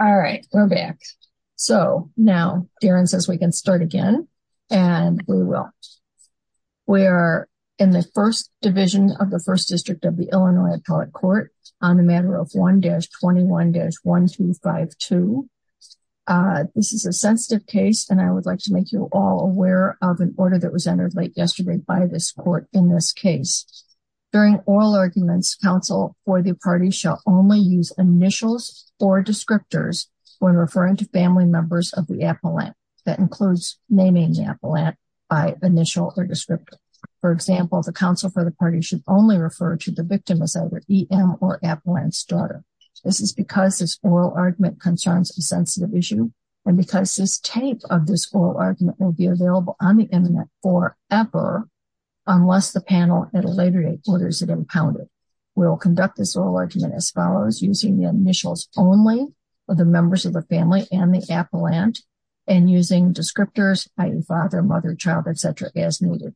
All right, we're back. So now, Darren says we can start again. And we will. We're in the first division of the First District of the Illinois Appellate Court on the matter of 1-21-1252. This is a sensitive case, and I would like to make you all aware of an order that was entered late yesterday by this court in this case. During oral arguments, counsel for the party shall only use initials or descriptors when referring to family members of the appellant. That includes naming the appellant by initial or descriptor. For example, the counsel for the party should only refer to the victim as either EM or appellant's daughter. This is because this oral argument concerns a sensitive issue. And because this tape of this oral argument will be available on the internet forever, unless the panel at a later date orders it impounded. We will conduct this oral argument as follows using the initials only of the members of the family and the appellant and using descriptors, i.e., father, mother, child, etc. as needed.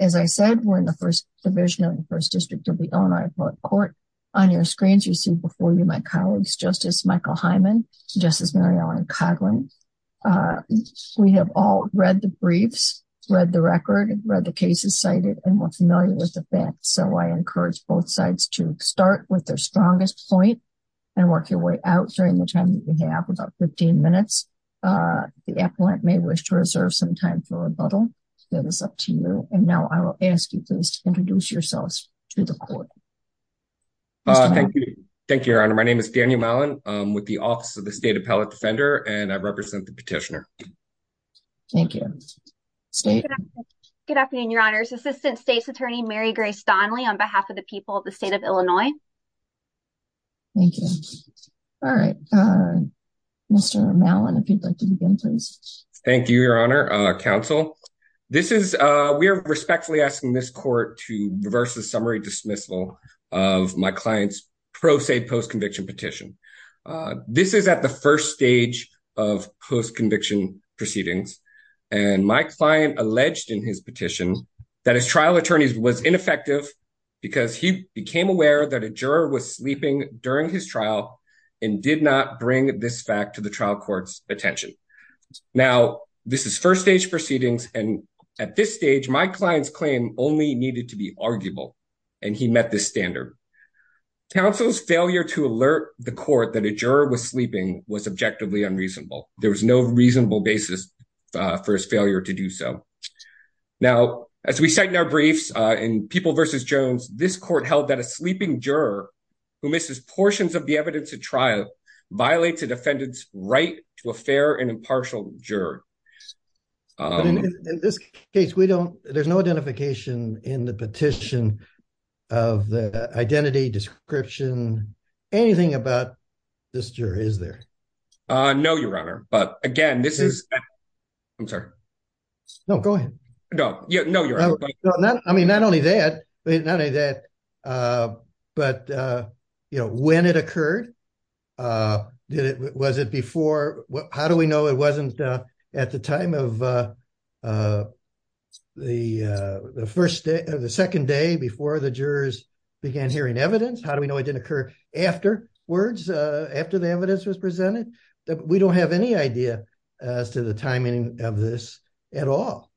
As I said, we're in the first division of the First District of the Illinois Appellate Court. On your screens, you see before you my colleagues, Justice Michael Hyman, Justice Mary Ellen Coughlin. We have all read the briefs, read the record, read the cases cited, and we're familiar with that. So I encourage both sides to start with their strongest point and work your way out during the time that you have about 15 minutes. The appellant may wish to reserve some time for rebuttal. That is up to you. And now I will ask you to introduce yourselves to the court. Thank you. Thank you, Your Honor. My name is Daniel Mallon. I'm with the Office of the State Appellate Defender and I represent the petitioner. Thank you. Good afternoon, Your Honors. Assistant State's Attorney Mary Grace Donnelly on behalf of the people of the state of Illinois. Thank you. All right. Mr. Mallon, if you'd like to begin, please. Thank you, Your Honor. Counsel, we are respectfully asking this court to reverse the summary dismissal of my client's pro se post-conviction petition. This is at the first stage of post-conviction proceedings. And my client alleged in his petition that his trial attorneys was ineffective because he became aware that a juror was sleeping during his trial and did not bring this fact to the trial court's attention. Now, this is first stage proceedings. And at this stage, my client's claim only needed to be arguable. And he met the standard. Counsel's failure to alert the court that a juror was sleeping was objectively unreasonable. There was no reasonable basis for his failure to do so. Now, as we cite in our briefs in People v. Jones, this court held that a sleeping juror who misses portions of the evidence at trial violates a defendant's right to a fair and impartial juror. In this case, there's no identification in the petition of the identity, description, anything about this juror, is there? No, Your Honor. But again, this is... I'm sorry. No, go ahead. No. No, Your Honor. I mean, not only that, but when it occurred, was it before? How do we know it wasn't at the time of the first day or the second day before the jurors began hearing evidence? How do we know it didn't occur afterwards, after the evidence was presented? We don't have any idea as to the timing of this at all.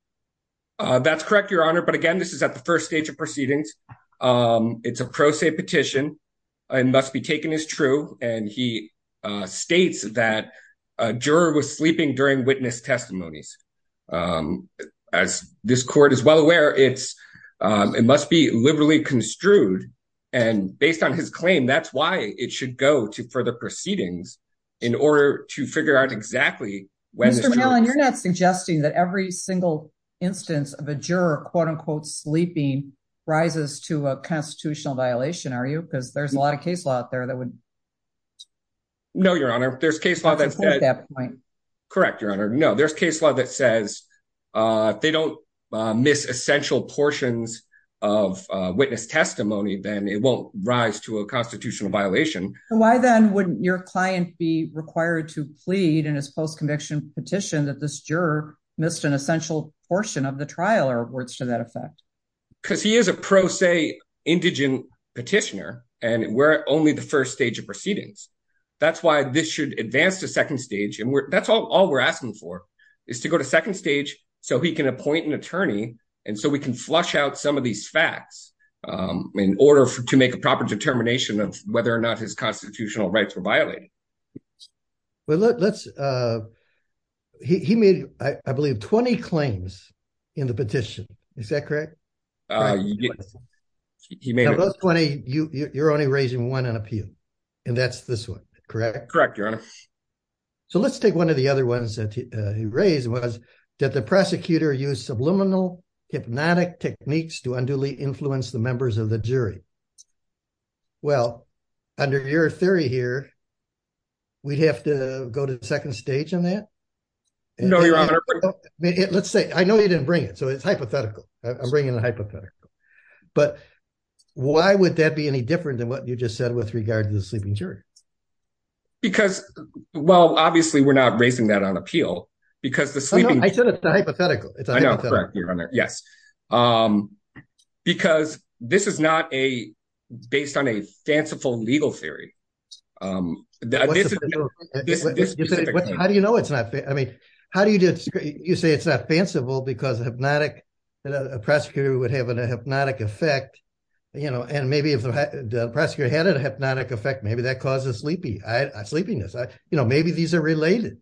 That's correct, Your Honor. But again, this is at the first stage of proceedings. It's a pro se petition. It must be taken as true. And he states that a juror was sleeping during witness testimonies. As this court is well aware, it must be liberally construed. And based on his claim, that's why it should go to further proceedings in order to figure out exactly when... Mr. Mellon, you're not suggesting that every single instance of a juror, quote unquote, sleeping rises to a constitutional violation, are you? Because there's a lot of case law out there that would... No, Your Honor. There's case law that's... ...support that point. Correct, Your Honor. No, there's case law that says if they don't miss essential portions of witness testimony, then it won't rise to a constitutional violation. Why then wouldn't your client be required to plead in his post-conviction petition that this juror missed an essential portion of the trial or words to that effect? Because he is a pro se indigent petitioner, and we're only the first stage of proceedings. That's why this should advance to second stage. And that's all we're asking for, is to go to second stage so he can appoint an attorney, and so we can flush out some of these facts in order to make a proper determination of whether or not his constitutional rights were violated. Well, look, let's... He made, I believe, 20 claims in the petition. Is that correct? He made... You're only raising one on appeal, and that's this one, correct? Correct, Your Honor. So let's take one of the other ones that he raised was that the prosecutor used subliminal hypnotic techniques to unduly influence the members of the jury. Well, under your theory here, we'd have to go to second stage on that? No, Your Honor. Let's say... I know you didn't bring it, so it's hypothetical. I'm bringing a hypothetical. But why would that be any different than what you just said with regard to the sleeping jury? Because... Well, obviously, we're not raising that on appeal, because the sleeping... No, I said it's a hypothetical. It's a hypothetical. I know. Correct, Your Honor. Yes. Because this is not based on a fanciful legal theory. How do you know it's not... I mean, how do you... You say it's not fanciful because a hypnotic prosecutor would have a hypnotic effect, and maybe if the prosecutor had a hypnotic effect, maybe that causes sleepiness. Maybe these are related.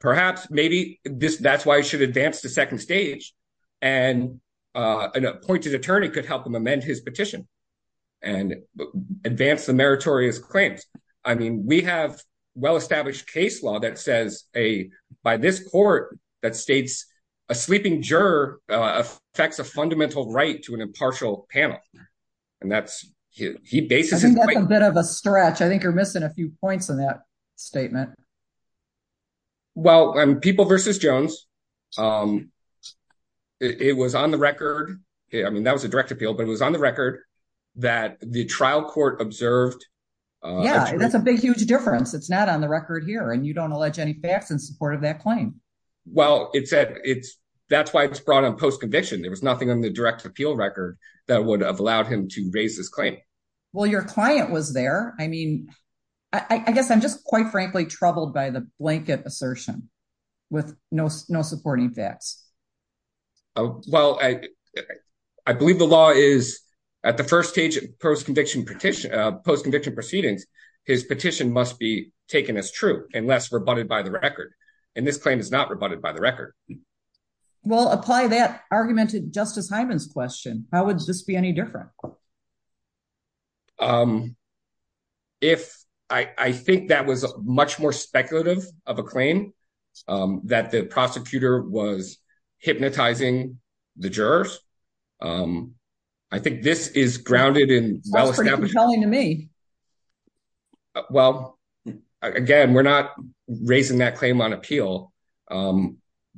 Perhaps. Maybe that's why he should advance to second stage, and an appointed attorney could help him amend his petition and advance the meritorious claims. I mean, we have a well facts a fundamental right to an impartial panel, and that's... He bases his claim... I think that's a bit of a stretch. I think you're missing a few points in that statement. Well, on People v. Jones, it was on the record... I mean, that was a direct appeal, but it was on the record that the trial court observed... Yeah, that's a big, huge difference. It's not on the record here, and you don't allege any in support of that claim. Well, that's why it's brought on post-conviction. There was nothing on the direct appeal record that would have allowed him to raise his claim. Well, your client was there. I mean, I guess I'm just quite frankly troubled by the blanket assertion with no supporting facts. Well, I believe the law is at the first stage of post-conviction proceedings, his petition must be taken as true unless rebutted by the record, and this claim is not rebutted by the record. Well, apply that argument to Justice Hyman's question. How would this be any different? I think that was much more speculative of a claim that the prosecutor was hypnotizing the jurors. I think this is grounded in well-established... Well, again, we're not raising that claim on appeal.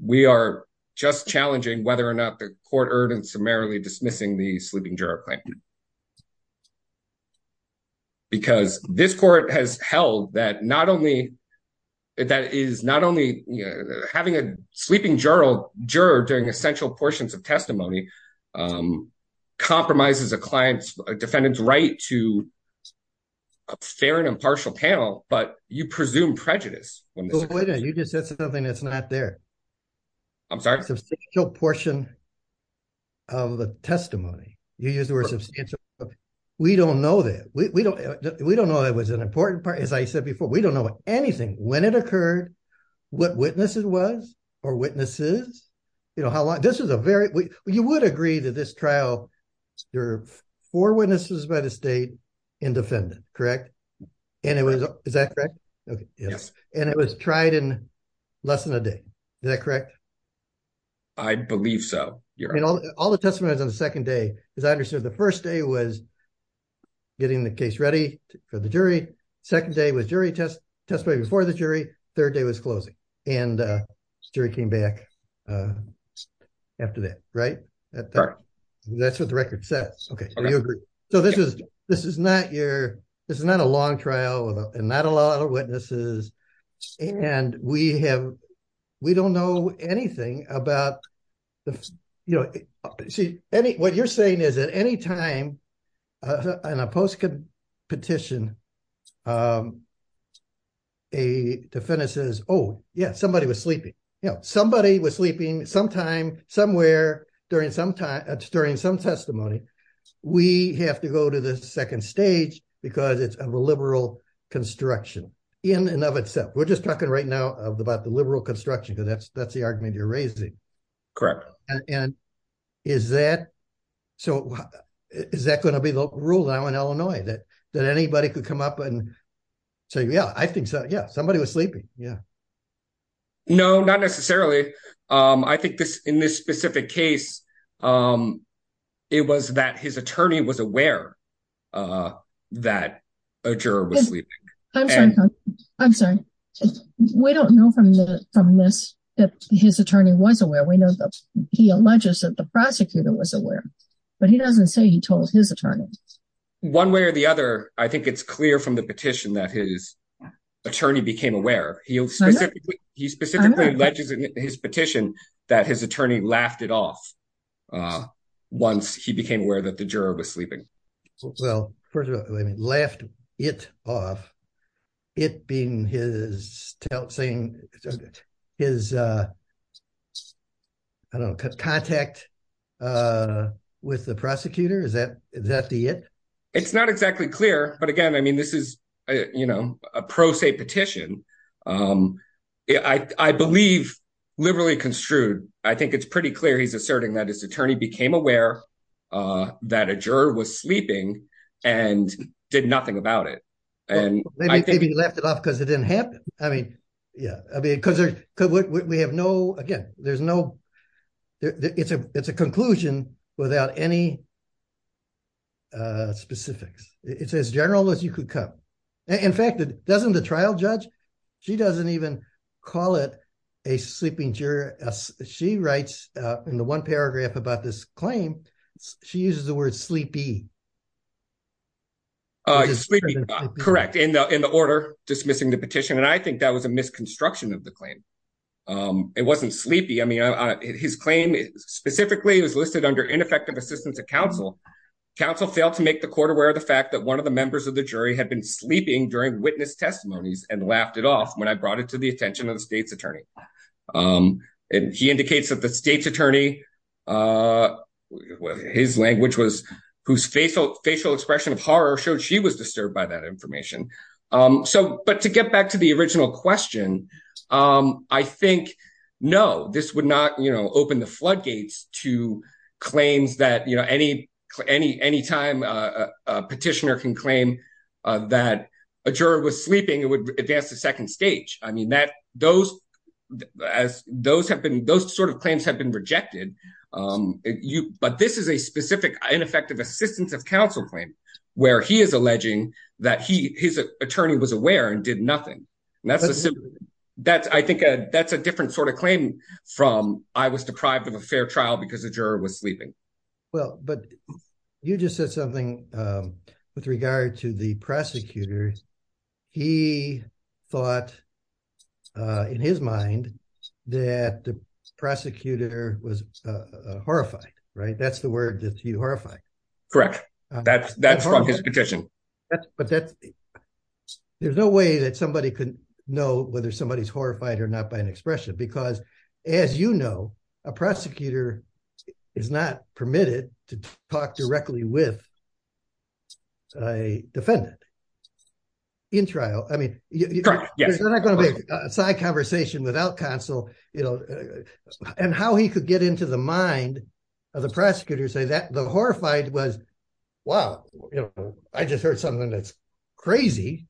We are just challenging whether or not the court erred in summarily dismissing the sleeping juror claim because this court has held that having a sleeping juror during essential portions of fair and impartial panel, but you presume prejudice. Well, wait a minute. You just said something that's not there. I'm sorry? Substantial portion of the testimony. You used the word substantial. We don't know that. We don't know that was an important part. As I said before, we don't know anything. When it occurred, what witnesses was or witnesses, you know, how long... And it was... Is that correct? Okay. Yes. And it was tried in less than a day. Is that correct? I believe so. All the testimonies on the second day, as I understood, the first day was getting the case ready for the jury. Second day was jury test, testimony before the jury. Third day was closing, and the jury came back after that, right? That's what the record says. Okay. So you agree. So this is not your... This is not a long trial and not a lot of witnesses, and we have... We don't know anything about... You know, what you're saying is at any time in a post-petition, a defendant says, oh yeah, somebody was sleeping. You know, somebody was sleeping. We have to go to the second stage because it's a liberal construction in and of itself. We're just talking right now about the liberal construction, because that's the argument you're raising. Correct. And is that... So is that going to be the rule now in Illinois that anybody could come up and say, yeah, I think so. Yeah. Somebody was sleeping. Yeah. No, not necessarily. I think in this specific case, it was that his attorney was aware that a juror was sleeping. I'm sorry. We don't know from this that his attorney was aware. We know he alleges that the prosecutor was aware, but he doesn't say he told his attorney. One way or the other, I think it's clear from the petition that his attorney... He specifically alleges in his petition that his attorney laughed it off once he became aware that the juror was sleeping. Well, first of all, I mean, laughed it off. It being his saying... His, I don't know, contact with the prosecutor. Is that the it? It's not I believe liberally construed. I think it's pretty clear he's asserting that his attorney became aware that a juror was sleeping and did nothing about it. And maybe he laughed it off because it didn't happen. I mean, yeah, because we have no... Again, there's no... It's a conclusion without any specifics. It's as general as you could come. In fact, doesn't the trial judge, she doesn't even call it a sleeping juror. She writes in the one paragraph about this claim, she uses the word sleepy. Sleepy, correct. In the order dismissing the petition. And I think that was a misconstruction of the claim. It wasn't sleepy. I mean, his claim specifically was listed under ineffective assistance of counsel. Counsel failed to make the court aware of the fact that the members of the jury had been sleeping during witness testimonies and laughed it off when I brought it to the attention of the state's attorney. And he indicates that the state's attorney, his language was whose facial expression of horror showed she was disturbed by that information. So, but to get back to the original question, I think, no, this would not open the floodgates to claims that any time a petitioner can claim that a juror was sleeping, it would advance to second stage. I mean, those sort of claims have been rejected, but this is a specific ineffective assistance of counsel claim where he is alleging that his was deprived of a fair trial because the juror was sleeping. Well, but you just said something with regard to the prosecutor. He thought in his mind that the prosecutor was horrified, right? That's the word that you horrify. Correct. That's from his petition. There's no way that somebody could know whether somebody's horrified or not by an expression because as you know, a prosecutor is not permitted to talk directly with a defendant in trial. I mean, you're not going to be a side conversation without counsel, you know, and how he could get into the mind of the prosecutor, say that the horrified was, wow, you know, I just heard something that's crazy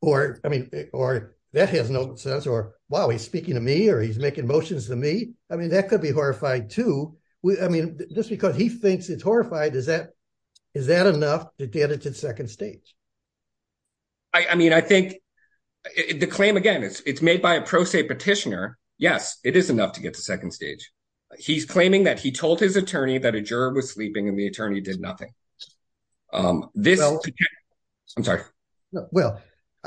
or, I mean, or that has no sense or, wow, he's speaking to me or he's making motions to me. I mean, that could be horrified too. I mean, just because he thinks it's horrified, is that enough to get it to the second stage? I mean, I think the claim again, it's made by a pro se petitioner. Yes, it is enough to get to second stage. He's claiming that he told his attorney that a juror was sleeping and the attorney did nothing. I'm sorry. Well,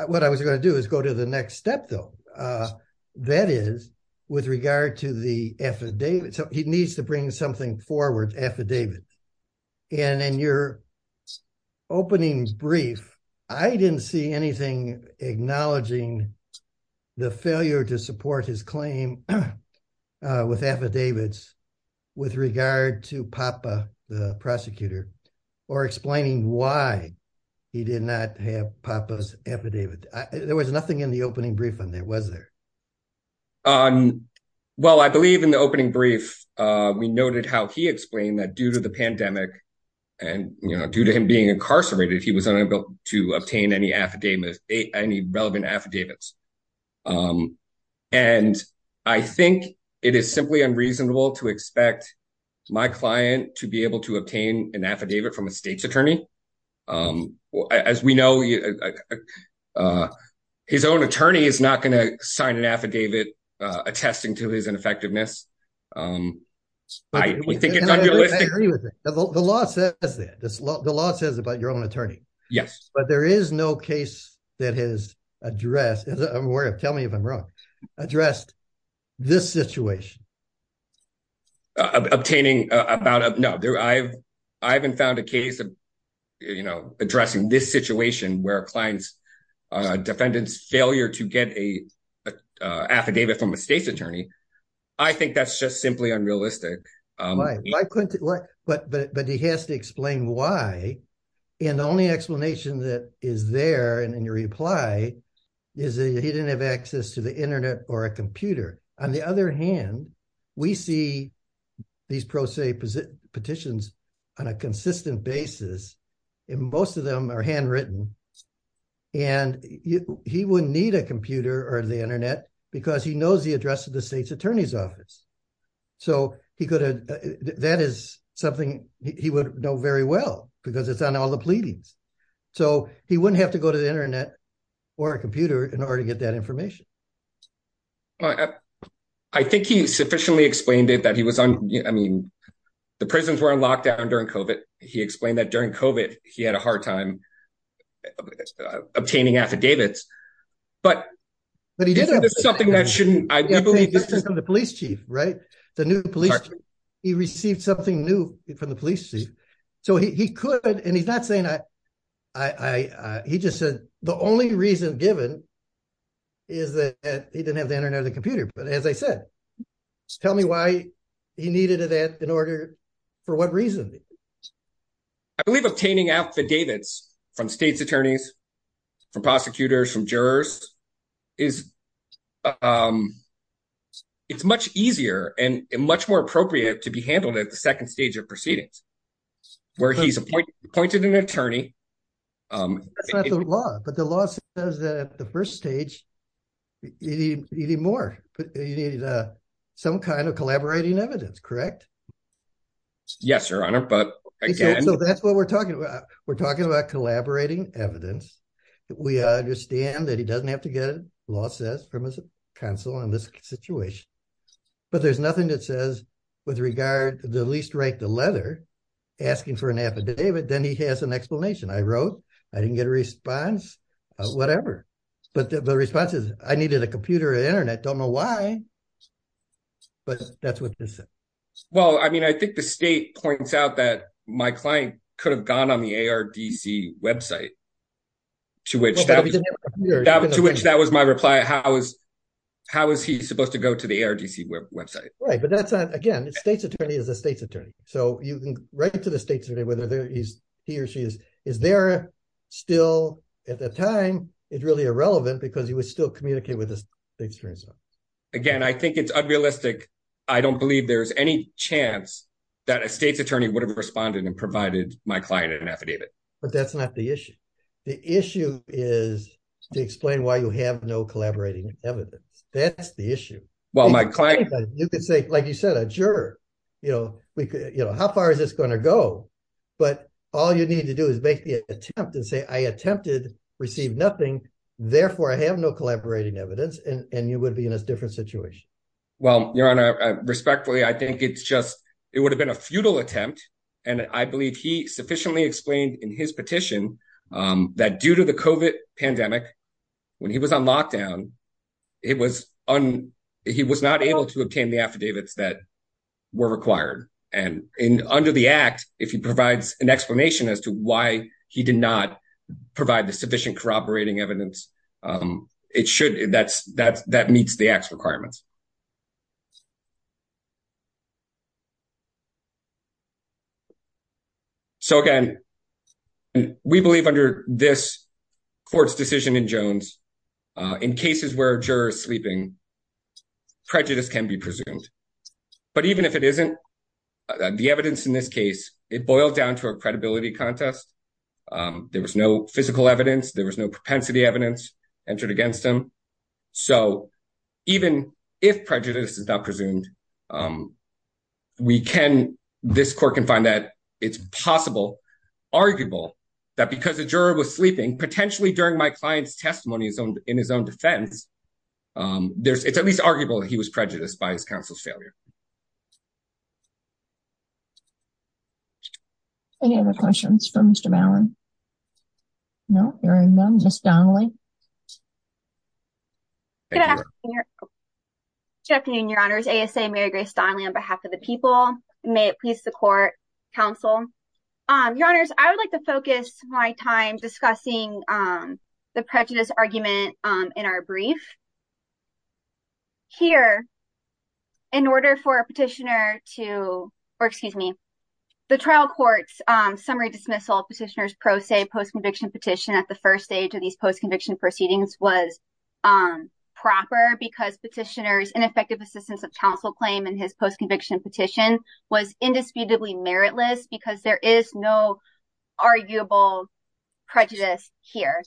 what I was going to do is go to the next step though. That is with regard to the affidavit. So he needs to bring something forward, affidavits. And in your opening brief, I didn't see anything acknowledging the failure to support his claim with affidavits with regard to Papa, the prosecutor, or explaining why he did not have Papa's affidavit. There was nothing in the opening brief on that, was there? Well, I believe in the opening brief, we noted how he explained that due to the pandemic and due to him being incarcerated, he was unable to obtain any relevant affidavits. And I think it is simply unreasonable to expect my client to be able to obtain an affidavit from a state's attorney. As we know, his own attorney is not going to sign an affidavit attesting to his ineffectiveness. I think it's unrealistic. I agree with it. The law says that. The law says about your own attorney. Yes. But there is no case that has addressed, I'm worried, tell me if I'm wrong, addressed this situation. Obtaining about, no, I haven't found a case of, you know, addressing this situation where a client's defendant's failure to get a affidavit from a state's attorney. I think that's just simply unrealistic. I couldn't, but he has to explain why. And the only explanation that is there in your reply is that he didn't have access to the internet or a computer. On the other hand, we see these pro se petitions on a consistent basis. And most of them are handwritten. And he wouldn't need a computer or the internet because he knows the address of the state's office. So he could have, that is something he would know very well because it's on all the pleadings. So he wouldn't have to go to the internet or a computer in order to get that information. I think he sufficiently explained it, that he was on, I mean, the prisons were on lockdown during COVID. He explained that during COVID he had a hard time obtaining affidavits, but he did have something that shouldn't, I believe this is from the police chief, right? The new police chief, he received something new from the police chief. So he could, and he's not saying I, he just said the only reason given is that he didn't have the internet or the computer. But as I said, tell me why he needed that in order, for what reason? I believe obtaining affidavits from state's attorneys, from prosecutors, from jurors is, it's much easier and much more appropriate to be handled at the second stage of proceedings, where he's appointed an attorney. That's not the law, but the law says that at the first stage, you need more, you need some kind of collaborating evidence, correct? Yes, your honor, but again. So that's what we're talking about. We're talking about collaborating evidence. We understand that he doesn't have to get it, law says, from his counsel in this situation. But there's nothing that says with regard to the least right to leather, asking for an affidavit, then he has an explanation. I wrote, I didn't get a response, whatever. But the response is, I needed a computer and internet, don't know why, but that's what this is. Well, I mean, I think the state points out that my client could have gone on the ARDC website, to which that was my reply. How is he supposed to go to the ARDC website? Right, but that's not, again, the state's attorney is the state's attorney. So you can write to the state's attorney, whether he or she is there, still at that time, it's really irrelevant because you would still communicate with the experience. Again, I think it's unrealistic. I don't believe there's any chance that a state's attorney would have responded and provided my client an affidavit. But that's not the issue. The issue is to explain why you have no collaborating evidence. That's the issue. Well, my client- You could say, like you said, a juror, how far is this going to go? But all you need to do is make the attempt and say, I attempted, received nothing, therefore, I have no collaborating evidence, and you would be in a different situation. Well, Your Honor, respectfully, I think it's just, it would have been a futile attempt. And I believe he sufficiently explained in his petition that due to the COVID pandemic, when he was on lockdown, he was not able to obtain the affidavits that were required. And under the act, if he provides an explanation as to why he did not provide the sufficient corroborating evidence, it should, that meets the act's requirements. So again, we believe under this court's decision in Jones, in cases where a juror is sleeping, prejudice can be presumed. But even if it isn't, the evidence in this case, it boiled down to a credibility contest. There was no physical evidence, there was no propensity evidence entered against him. So even if prejudice is not presumed, we can, this court can find that it's possible, arguable, that because the juror was sleeping, potentially during my client's in his own defense, it's at least arguable that he was prejudiced by his counsel's failure. Any other questions for Mr. Ballin? No? Hearing none, Ms. Donnelly? Good afternoon, Your Honors. ASA Mary Grace Donnelly on behalf of the people. May it please the court, counsel. Your Honors, I would like to focus my time discussing the prejudice argument in our brief. Here, in order for a petitioner to, or excuse me, the trial court's summary dismissal of petitioner's pro se post-conviction petition at the first stage of these post-conviction proceedings was proper because petitioner's ineffective assistance of counsel claim in his post-conviction petition was indisputably meritless because there is no arguable prejudice here.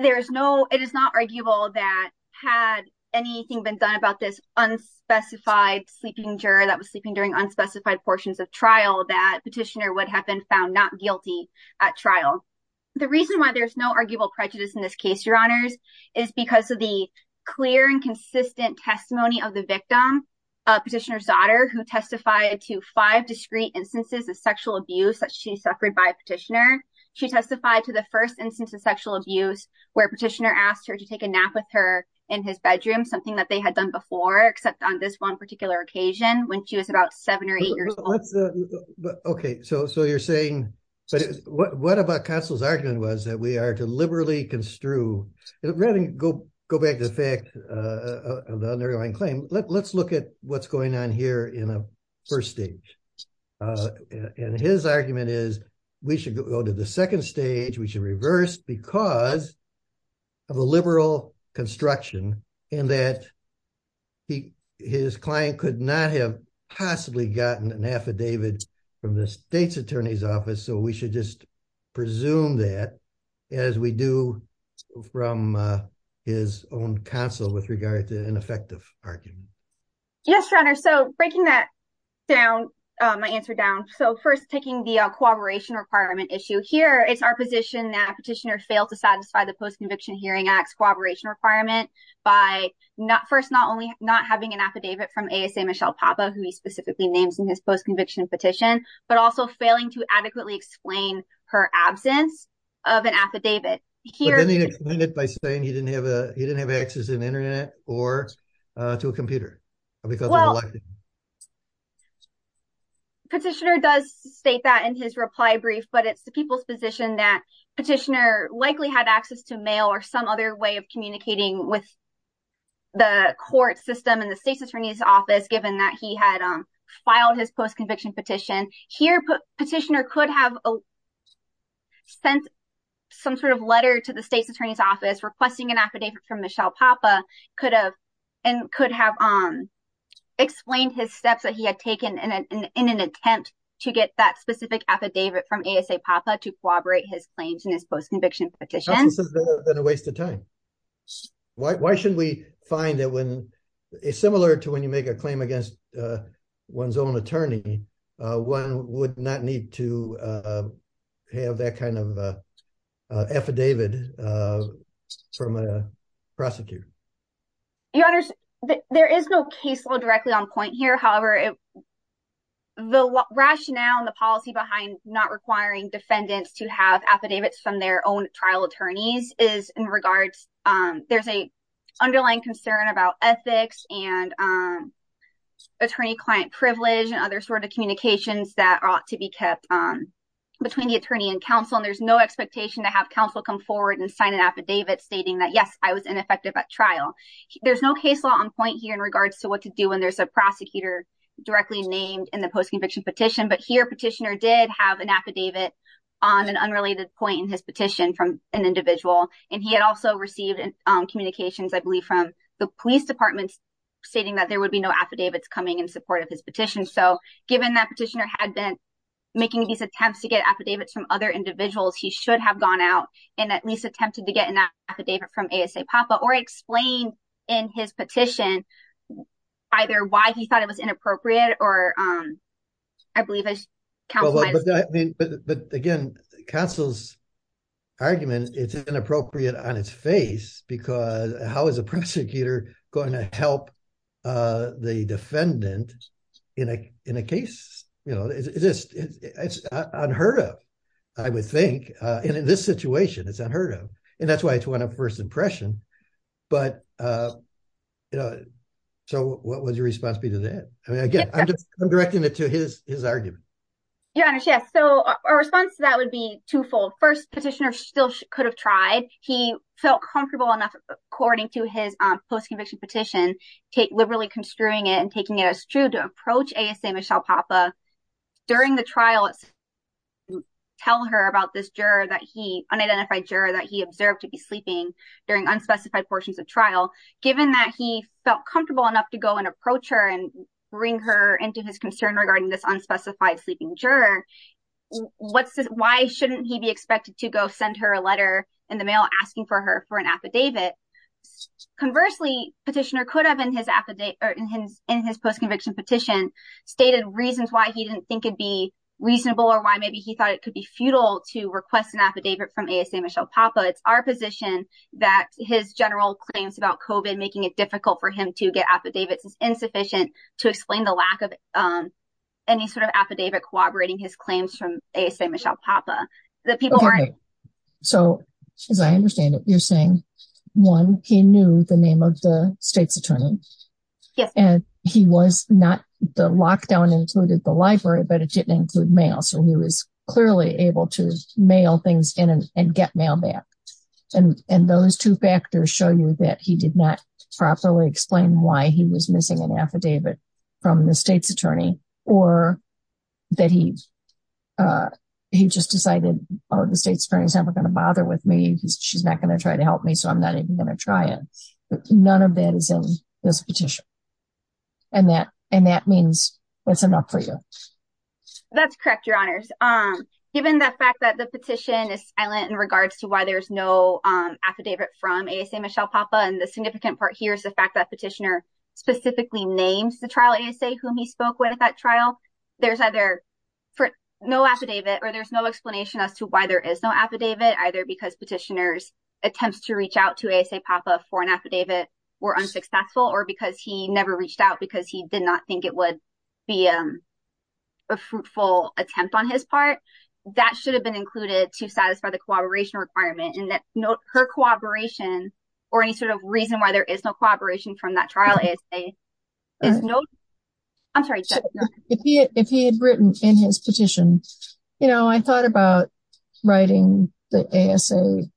There is no, it is not arguable that had anything been done about this unspecified sleeping juror that was sleeping during unspecified portions of trial that petitioner would have been found not guilty at trial. The reason why there's no arguable prejudice in this case, Your Honors, is because of the clear and consistent testimony of the victim, petitioner's daughter, who testified to five discrete instances of sexual abuse that she suffered by a petitioner. She testified to the first instance of sexual abuse where petitioner asked her to take a nap with her in his bedroom, something that they had done before, except on this one particular occasion when she was about seven or eight years old. Okay, so you're saying, what about counsel's argument was that we are to liberally construe, rather than go back to the fact of the underlying claim, let's look at what's going on here in a first stage. And his argument is we should go to the second stage, we should reverse because of a liberal construction, and that his client could not have possibly gotten an affidavit from the state's attorney's office, so we should just presume that as we do from his own counsel with regard to an effective argument. Yes, Your Honor, so breaking that down, my answer down, so first taking the cooperation requirement issue here, it's our position that petitioner failed to satisfy the Post-Conviction Hearing Act's cooperation requirement by first not only not having an affidavit from ASA Michelle Papa, who he specifically names in his post-conviction petition, but also failing to adequately explain her absence of an affidavit. But then he explained it by he didn't have access to the internet or to a computer. Petitioner does state that in his reply brief, but it's the people's position that petitioner likely had access to mail or some other way of communicating with the court system and the state's attorney's office, given that he had filed his post-conviction petition. Here, petitioner could have sent some sort of letter to the state's attorney's office requesting an affidavit from Michelle Papa and could have explained his steps that he had taken in an attempt to get that specific affidavit from ASA Papa to corroborate his claims in his post-conviction petition. This has been a waste of time. Why shouldn't we find that when it's similar to when you make a claim against one's own attorney, one would not need to have that kind of affidavit from a prosecutor? Your honors, there is no case law directly on point here. However, the rationale and the policy behind not requiring defendants to have affidavits from their own trial attorney client privilege and other sort of communications that ought to be kept between the attorney and counsel. There's no expectation to have counsel come forward and sign an affidavit stating that, yes, I was ineffective at trial. There's no case law on point here in regards to what to do when there's a prosecutor directly named in the post-conviction petition. But here, petitioner did have an affidavit on an unrelated point in his petition from an individual. He had also received communications, I believe, from the police department stating that there would be no affidavits coming in support of his petition. So given that petitioner had been making these attempts to get affidavits from other individuals, he should have gone out and at least attempted to get an affidavit from ASAPAPA or explain in his petition either why he thought it was inappropriate or, I believe... But again, counsel's argument, it's inappropriate on its face because how is a prosecutor going to help the defendant in a case? It's unheard of, I would think. And in this situation, it's unheard of. And that's why it's one of first impression. So what would your response be to that? I mean, again, I'm directing it to his argument. Your Honor, yes. So our response to that would be twofold. First, petitioner still could have tried. He felt comfortable enough, according to his post-conviction petition, liberally construing it and taking it as true to approach ASAPAPA. During the trial, tell her about this unidentified juror that he observed to be sleeping during unspecified portions of trial. Given that he felt comfortable enough to go and approach her and bring her into his concern regarding this unspecified sleeping juror, why shouldn't he be expected to go send her a letter in the mail asking for her for an affidavit? Conversely, petitioner could have in his post-conviction petition stated reasons why he didn't think it'd be reasonable or why maybe he thought it could be futile to request an affidavit from ASAPAPA. It's our position that his general claims about COVID making it difficult for him to get affidavits is insufficient to explain the lack of any sort of affidavit corroborating his claims from ASAPAPA. So, as I understand it, you're saying, one, he knew the name of the state's attorney. And he was not, the lockdown included the library, but it didn't include mail. So he was clearly able to mail things in and get mail back. And those two factors show you that he did not properly explain why he was missing an affidavit from the state's attorney or that he just decided, oh, the state's attorney is never going to bother with me. She's not going to try to help me. So I'm not even going to try it. None of that is in this petition. And that means it's enough for you. That's correct, Your Honors. Given the fact that the petition is silent in regards to why there's no affidavit from ASAPAPA, and the significant part here is the fact that petitioner specifically names the trial ASAPAPA whom he spoke with at that trial, there's either for no affidavit or there's no explanation as to why there is no affidavit, either because petitioners attempts to reach out to ASAPAPA for an affidavit were unsuccessful or because he never reached out because he did not think it would be a fruitful attempt on his part. That should have been included to satisfy the cooperation requirement and that her cooperation or any sort of reason why there is no cooperation from that trial ASAPAPA is no, I'm sorry. If he had written in his petition, you know, I thought about writing the ASA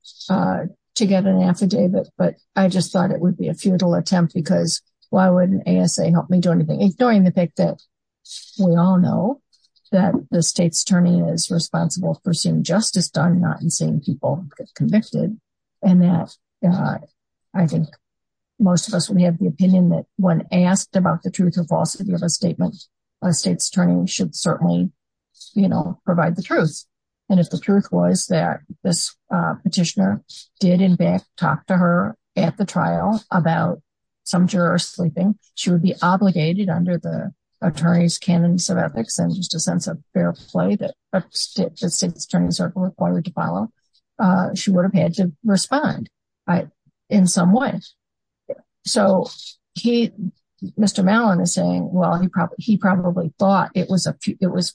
to get an affidavit, but I just thought it would be a futile attempt because why wouldn't ASA help me do anything, ignoring the fact that we all know that the state's attorney is responsible for seeing justice done, not in seeing people convicted. And that I think most of us, we have the opinion that when asked about the truth or falsity of a statement, a state's attorney should certainly, you know, provide the truth. And if the truth was that this petitioner did in fact talk to her at the trial about some juror sleeping, she would be obligated under the attorney's canons of ethics and just a sense of fair play that the state's attorneys are required to follow. She would have to respond in some way. So he, Mr. Mallon is saying, well, he probably thought it was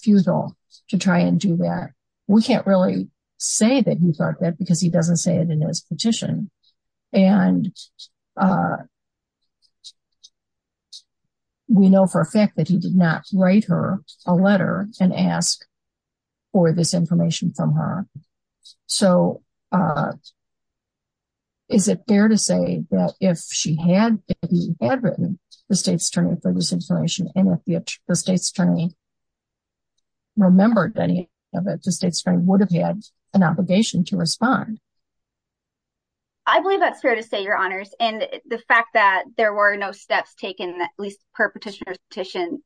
futile to try and do that. We can't really say that he thought that because he doesn't say it in his petition. And we know for a fact that he did not write her a letter and ask for this information from her. So is it fair to say that if she had written the state's attorney for this information and if the state's attorney remembered any of it, the state's attorney would have had an obligation to respond. I believe that's fair to say, your honors. And the fact that there were no steps taken, at least per petitioner's petition,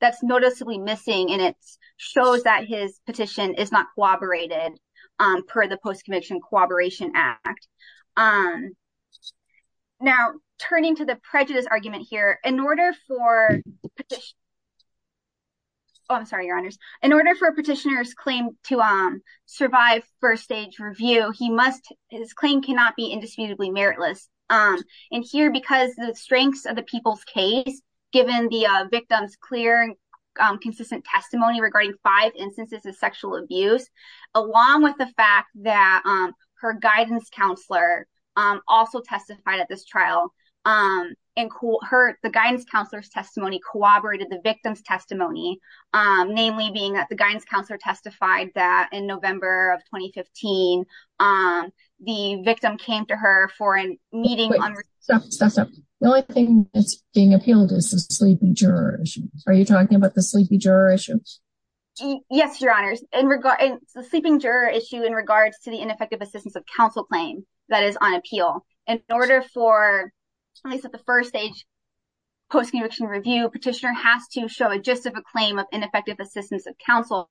that's noticeably missing. And it shows that his petition is not corroborated per the post-conviction corroboration act. Now, turning to the prejudice argument here, in order for petitioners claim to survive first stage review, his claim cannot be indisputably meritless. And here, because the strengths of the people's case, given the victim's clear consistent testimony regarding five instances of sexual abuse, along with the fact that her guidance counselor also testified at this trial, the guidance counselor's testimony corroborated the victim's testimony, namely being that the guidance counselor testified that in November of 2015, the victim came to her for a meeting. The only thing that's being appealed is the sleeping juror issue. Are you talking about the sleepy juror issue? Yes, your honors. The sleeping juror issue in regards to the ineffective assistance of counsel claim that is on appeal. In order for at least at the first stage post-conviction review, petitioner has to show a justification of ineffective assistance of counsel.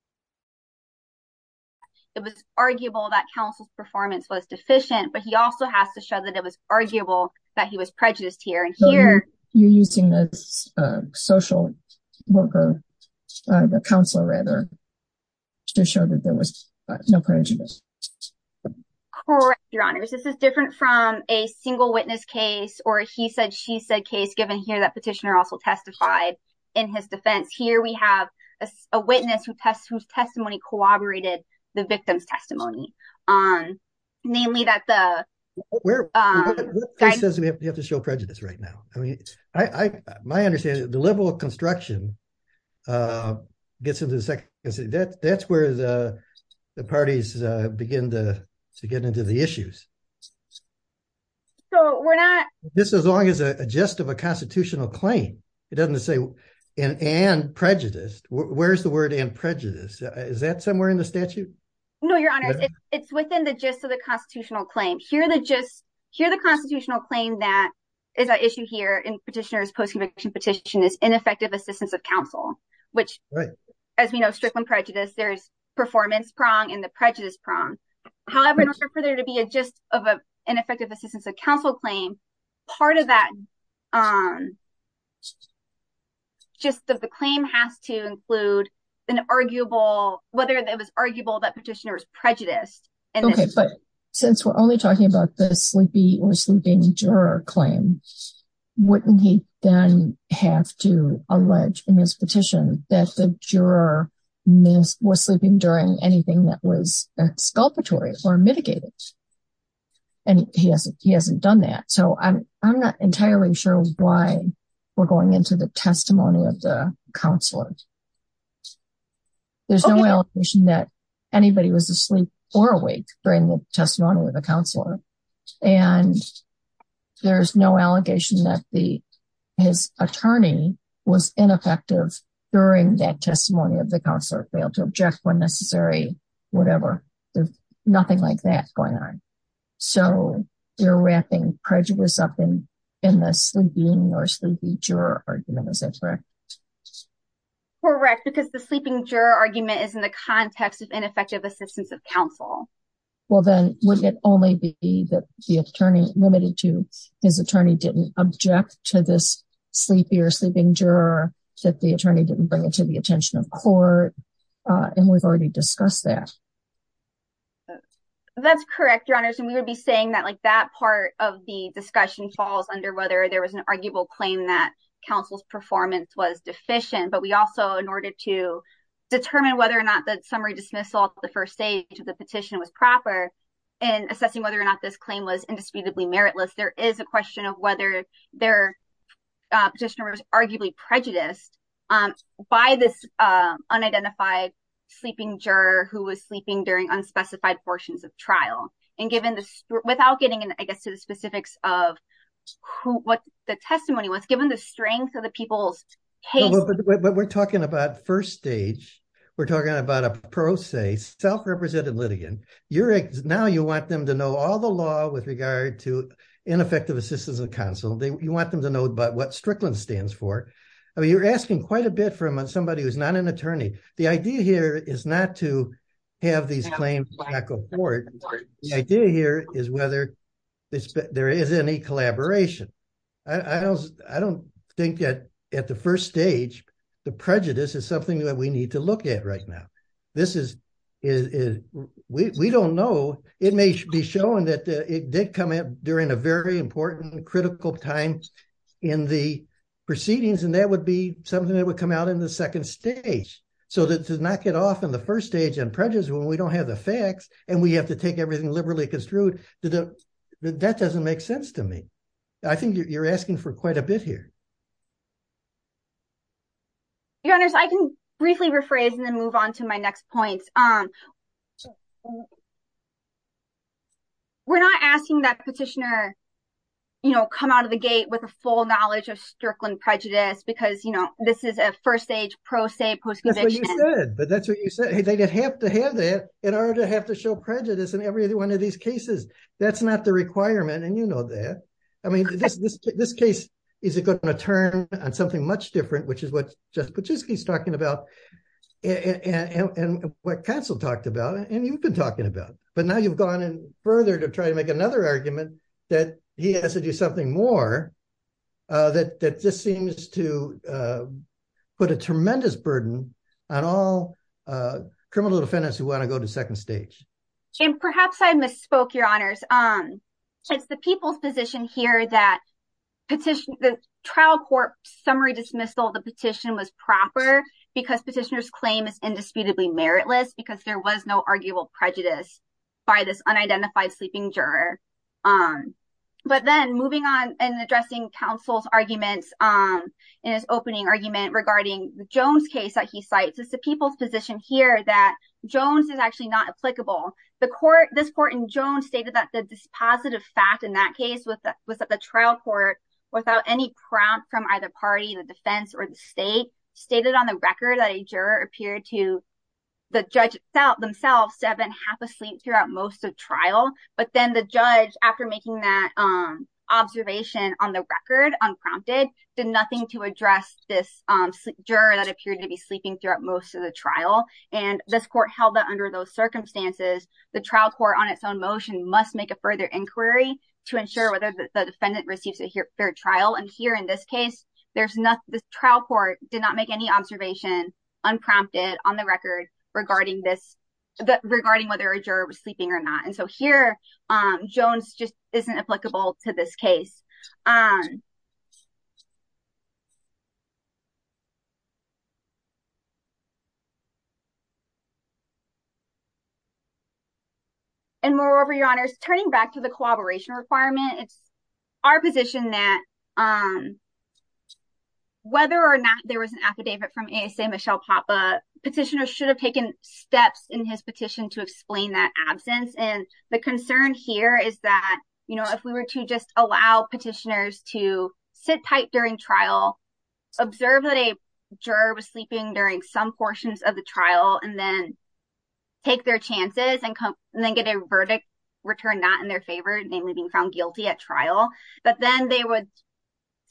It was arguable that counsel's performance was deficient, but he also has to show that it was arguable that he was prejudiced here. And here- You're using the social worker, the counselor rather, to show that there was no prejudice. Correct, your honors. This is different from a single witness case or he said, she said case given here that petitioner also testified in his defense. Here, we have a witness whose testimony corroborated the victim's testimony. Namely that the- You have to show prejudice right now. I mean, my understanding is the liberal construction gets into the second. That's where the parties begin to get into the issues. So we're not- This is as long as a gist of a constitutional claim. It doesn't say and prejudiced. Where's the word and prejudiced? Is that somewhere in the statute? No, your honors. It's within the gist of the constitutional claim. Here the gist, here the constitutional claim that is an issue here in petitioner's post-conviction petition is ineffective assistance of counsel, which as we know, strickland prejudice, there's performance prong and the prejudice prong. However, in order for there to be a gist of an ineffective assistance of counsel claim, part of that gist of the claim has to include an arguable, whether it was arguable that petitioner was prejudiced. Okay, but since we're only talking about the sleepy or sleeping juror claim, wouldn't he then have to allege in his petition that the juror was sleeping during anything that sculpatory or mitigated? And he hasn't done that. So I'm not entirely sure why we're going into the testimony of the counselor. There's no allegation that anybody was asleep or awake during the testimony of the counselor. And there's no allegation that his attorney was ineffective during that testimony of the counselor failed to object when necessary, whatever, there's nothing like that going on. So you're wrapping prejudice up in, in the sleeping or sleepy juror argument, is that correct? Correct, because the sleeping juror argument is in the context of ineffective assistance of counsel. Well, then would it only be that the attorney limited to his attorney didn't object to this sleepy or sleeping juror that the attorney didn't bring it to the attention of court. And we've already discussed that. That's correct, your honors. And we would be saying that like that part of the discussion falls under whether there was an arguable claim that counsel's performance was deficient. But we also in order to determine whether or not that summary dismissal, the first stage of the petition was proper. And assessing whether or not this claim was indisputably meritless, there is a question of whether they're just arguably prejudiced by this unidentified sleeping juror who was sleeping during unspecified portions of trial. And given this without getting in, I guess, to the specifics of who what the testimony was given the strength of the people's hate. We're talking about first stage, we're talking about a pro se self-represented litigant. Now you want them to know all the law with regard to ineffective assistance of counsel. You want them to know about what Strickland stands for. I mean, you're asking quite a bit from somebody who's not an attorney. The idea here is not to have these claims back or forth. The idea here is whether there is any collaboration. I don't think that at the first stage, the prejudice is something that we need to look at right now. We don't know. It may be shown that it did come up during a very important, critical time in the proceedings, and that would be something that would come out in the second stage. So to knock it off in the first stage and prejudice when we don't have the facts, and we have to take everything liberally construed, that doesn't make sense to me. I think you're asking for quite a bit here. Your Honor, I can briefly rephrase and then move on to my next point. We're not asking that petitioner come out of the gate with a full knowledge of Strickland prejudice because this is a first stage pro se post-conviction. That's what you said. They'd have to have that in order to have to show prejudice in every one of these cases. That's not the requirement, and you know that. This case is going to turn on something much different, which is what Jeff Kuczynski is talking about, and what counsel talked about, and you've been talking about. But now you've gone in further to try to make another argument that he has to do something more that just seems to put a tremendous burden on all criminal defendants who want to go to second stage. Perhaps I misspoke, Your Honors. It's the people's position here that the trial court summary dismissal of the petition was proper because petitioner's claim is indisputably meritless because there was no arguable prejudice by this unidentified sleeping juror. But then moving on and addressing counsel's arguments in his opening argument regarding Jones' case that he cites, it's the people's position here that Jones is actually not applicable. This court in Jones stated that this positive fact in that case was that the trial court, without any prompt from either party, the defense, or the state, stated on the record that a juror appeared to the judge themselves to have been half asleep throughout most of trial. But then the judge, after making that observation on the record unprompted, did nothing to address this juror that appeared to be sleeping throughout most of the trial. And this court held that under those circumstances, the trial court on its own motion must make a further inquiry to ensure whether the defendant receives a fair trial. And here in this case, there's nothing. The trial court did not make any observation unprompted on the record regarding this, regarding whether a juror was sleeping or not. And so here, Jones just isn't applicable to this case. And moreover, your honors, turning back to the cooperation requirement, it's our position that whether or not there was an affidavit from ASA Michelle Papa, petitioners should have taken steps in his petition to explain that absence. And the concern here is that if we were to just allow petitioners to sit tight during trial, observe that a juror was sleeping during some portions of the trial, and then take their chances and then get a verdict returned not in their favor, namely being found guilty at trial. But then they would,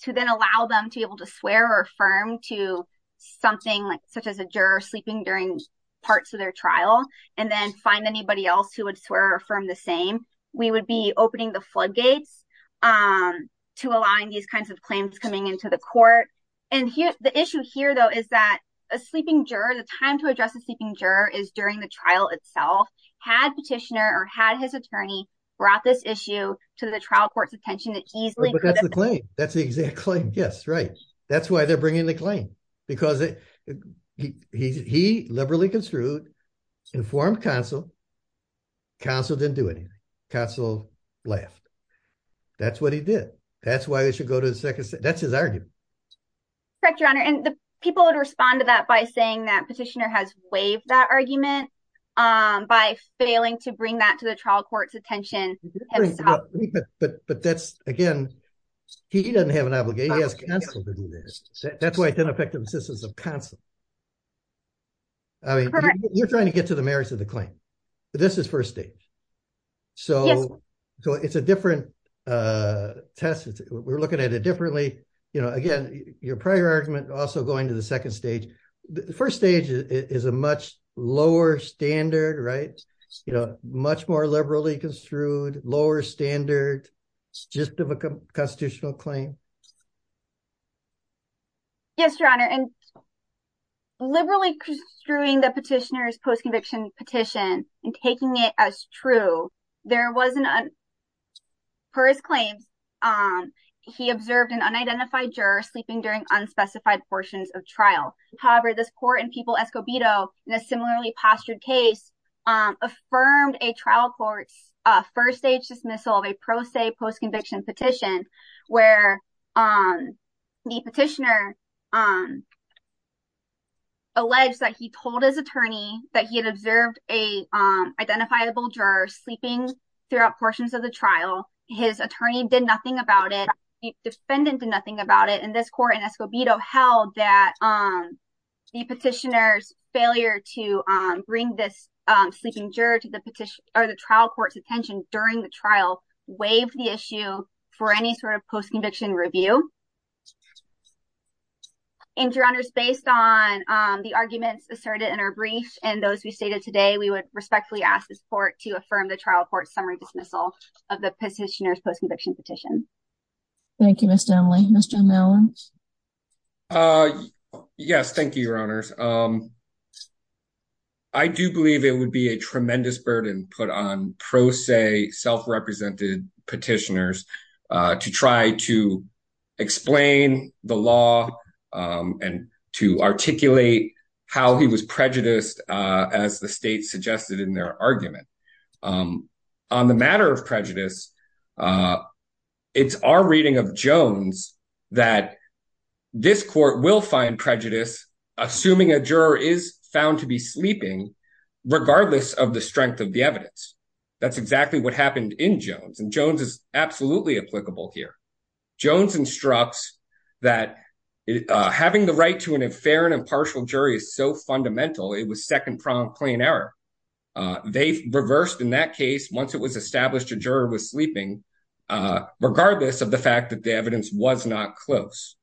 to then allow them to be able to swear or affirm to something like such as a juror sleeping during parts of their trial, and then find anybody else who would swear or affirm the same, we would be opening the floodgates to align these kinds of claims coming into the court. And here, the issue here though, is that a sleeping juror, the time to address a sleeping juror is during the trial itself, had petitioner or had his attorney brought this issue to the trial court's attention that easily. But that's the claim. That's the exact claim. Yes, right. That's why they're bringing the claim. Because he liberally construed, informed counsel, counsel didn't do anything. Counsel laughed. That's what he did. That's why they should go to the second set. That's his argument. Correct, your honor. And the people would respond to that by saying that petitioner has waived that argument by failing to bring that to the trial court's attention. But that's again, he doesn't have an obligation. He has counsel to do this. That's why it didn't affect the persistence of counsel. I mean, you're trying to get to the claim. This is first stage. So it's a different test. We're looking at it differently. Again, your prior argument also going to the second stage. The first stage is a much lower standard, right? Much more liberally construed, lower standard, just of a constitutional claim. Yes, your honor. And liberally construing the petitioner's post-conviction petition and taking it as true, there wasn't, per his claims, he observed an unidentified juror sleeping during unspecified portions of trial. However, this court in Peoples-Escobedo, in a similarly postured case, affirmed a trial court's first stage dismissal of a pro se post-conviction petition, where the petitioner alleged that he told his attorney that he had observed an identifiable juror sleeping throughout portions of the trial. His attorney did nothing about it. The defendant did nothing about it. And this court in Escobedo held that the petitioner's failure to bring this sort of post-conviction review. And your honors, based on the arguments asserted in our brief and those we stated today, we would respectfully ask this court to affirm the trial court's summary dismissal of the petitioner's post-conviction petition. Thank you, Ms. Downley. Mr. Mellon? Yes, thank you, your honors. I do believe it would be a tremendous burden put on pro se, self-represented petitioners to try to explain the law and to articulate how he was prejudiced as the state suggested in their argument. On the matter of prejudice, it's our reading of Jones that this court will find prejudice assuming a juror is found to be sleeping regardless of the in Jones. And Jones is absolutely applicable here. Jones instructs that having the right to an fair and impartial jury is so fundamental, it was second-pronged plain error. They reversed in that case once it was established a juror was sleeping, regardless of the fact that the evidence was not close.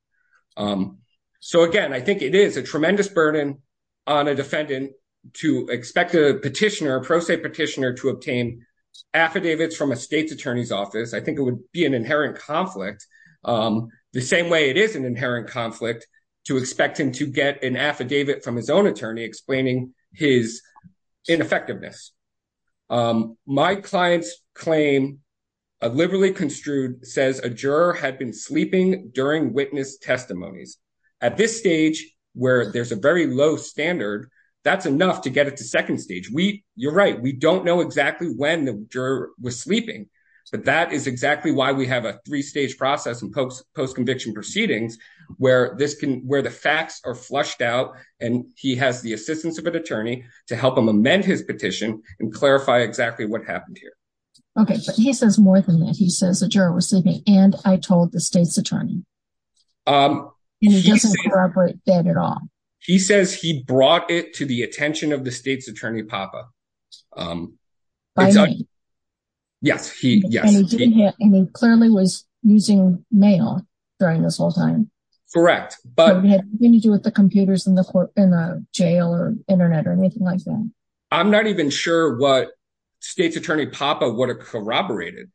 So again, I think it is a tremendous burden on a defendant to expect a petitioner, pro se petitioner, to obtain affidavits from a state's attorney's office. I think it would be an inherent conflict the same way it is an inherent conflict to expect him to get an affidavit from his own attorney explaining his ineffectiveness. My client's claim, a liberally construed, says a juror had been sleeping during witness testimonies. At this we don't know exactly when the juror was sleeping, but that is exactly why we have a three-stage process in post-conviction proceedings where the facts are flushed out and he has the assistance of an attorney to help him amend his petition and clarify exactly what happened here. Okay, but he says more than that. He says the juror was sleeping and I told the state's attorney. He says he brought it to the attention of the state's attorney, Papa. By name? Yes, yes. And he clearly was using mail during this whole time. Correct. But it had nothing to do with the computers in the court in the jail or internet or anything like that. I'm not even sure what state's attorney Papa would have corroborated.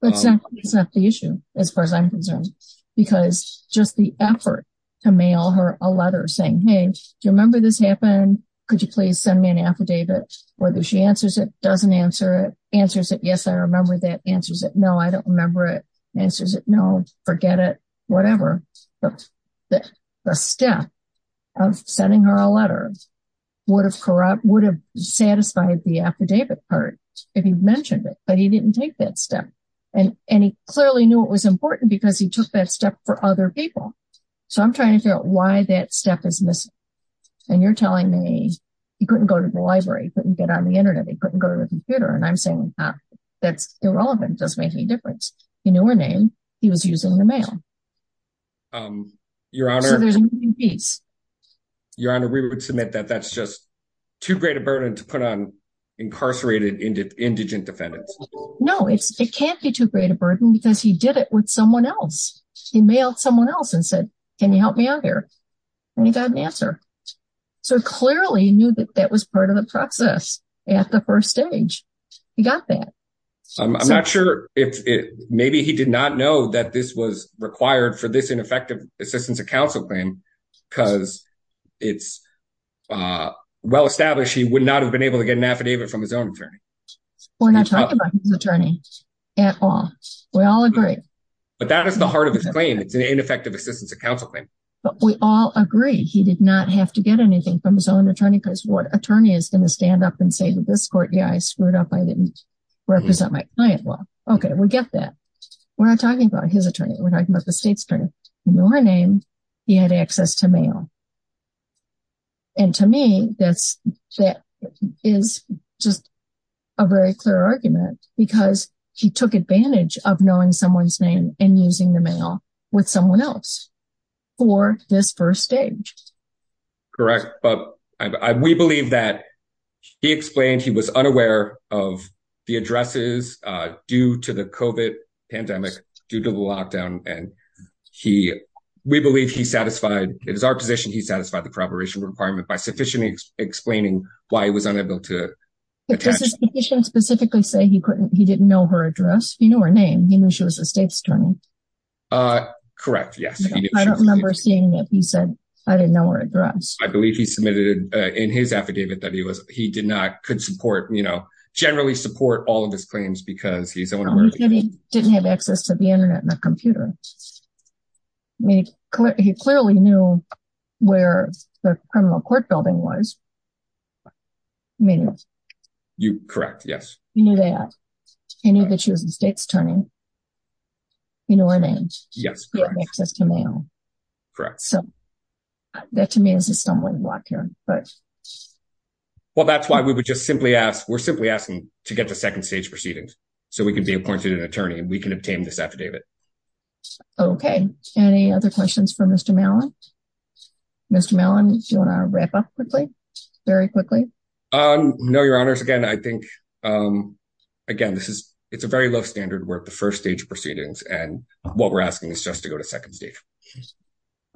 But it's not the issue as far as I'm concerned because just the effort to mail her a letter saying, hey, do you remember this happened? Could you please send me an affidavit? Whether she answers it, doesn't answer it, answers it, yes, I remember that, answers it, no, I don't remember it, answers it, no, forget it, whatever. The step of sending her a letter would have satisfied the affidavit part if he mentioned it, but he didn't take that step. And he clearly knew it was important because he took that step for other people. So I'm trying to figure out why that step is missing. And you're telling me he couldn't go to the library, couldn't get on the internet, he couldn't go to the computer. And I'm saying that's irrelevant, doesn't make any difference. He knew her name, he was using the mail. Your Honor, we would submit that that's just too great a burden to put on incarcerated indigent defendants. No, it can't be too great a burden because he did it with someone else. He mailed someone else and said, can you help me out here? And he got an answer. So clearly he knew that that was part of the process at the first stage. He got that. I'm not sure if it maybe he did not know that this was required for this ineffective assistance of counsel claim because it's well established he would not have been able to get an affidavit from his own attorney. We're not talking about his attorney at all. We all agree. But that is the heart of his claim. It's an ineffective assistance of counsel claim. But we all agree he did not have to get anything from his own attorney because what attorney is going to stand up and say to this court, yeah, I screwed up, I didn't represent my client well. Okay, we get that. We're not talking about his attorney, we're talking about the state's attorney. He knew her name, he had access to mail. And to me, that is just a very clear argument because he took advantage of knowing someone's name and using the mail with someone else for this first stage. Correct. But we believe that he explained he was unaware of the addresses due to the COVID pandemic, due to the lockdown. And he, we believe he satisfied, it is our position, he satisfied the corroboration requirement by sufficiently explaining why he was unable to attach. Does his petition specifically say he couldn't, he didn't know her address? He knew her name. He knew she was a state's attorney. Correct. Yes. I don't remember seeing that he said I didn't know her address. I believe he submitted in his affidavit that he was, he did not, could support, you know, generally support all of his claims because he's didn't have access to the internet and the computer. He clearly knew where the criminal court building was. Correct. Yes. He knew that she was a state's attorney. He knew her name. Yes. He had access to mail. Correct. So that to me is a stumbling block here. Well, that's why we would just simply ask, we're simply asking to get the second stage proceedings so we can be appointed an attorney and we can obtain this affidavit. Okay. Any other questions for Mr. Mellon? Mr. Mellon, do you want to wrap up quickly? Very quickly? No, your honors. Again, I think, again, this is, it's a very low standard work, the first stage proceedings, and what we're asking is just to go to second stage.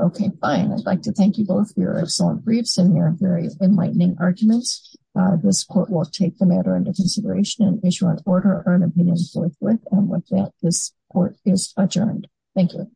Okay, fine. I'd like to thank you both for your excellent briefs and your very enlightening arguments. This court will take the matter into consideration and issue an opinion forthwith. And with that, this court is adjourned. Thank you.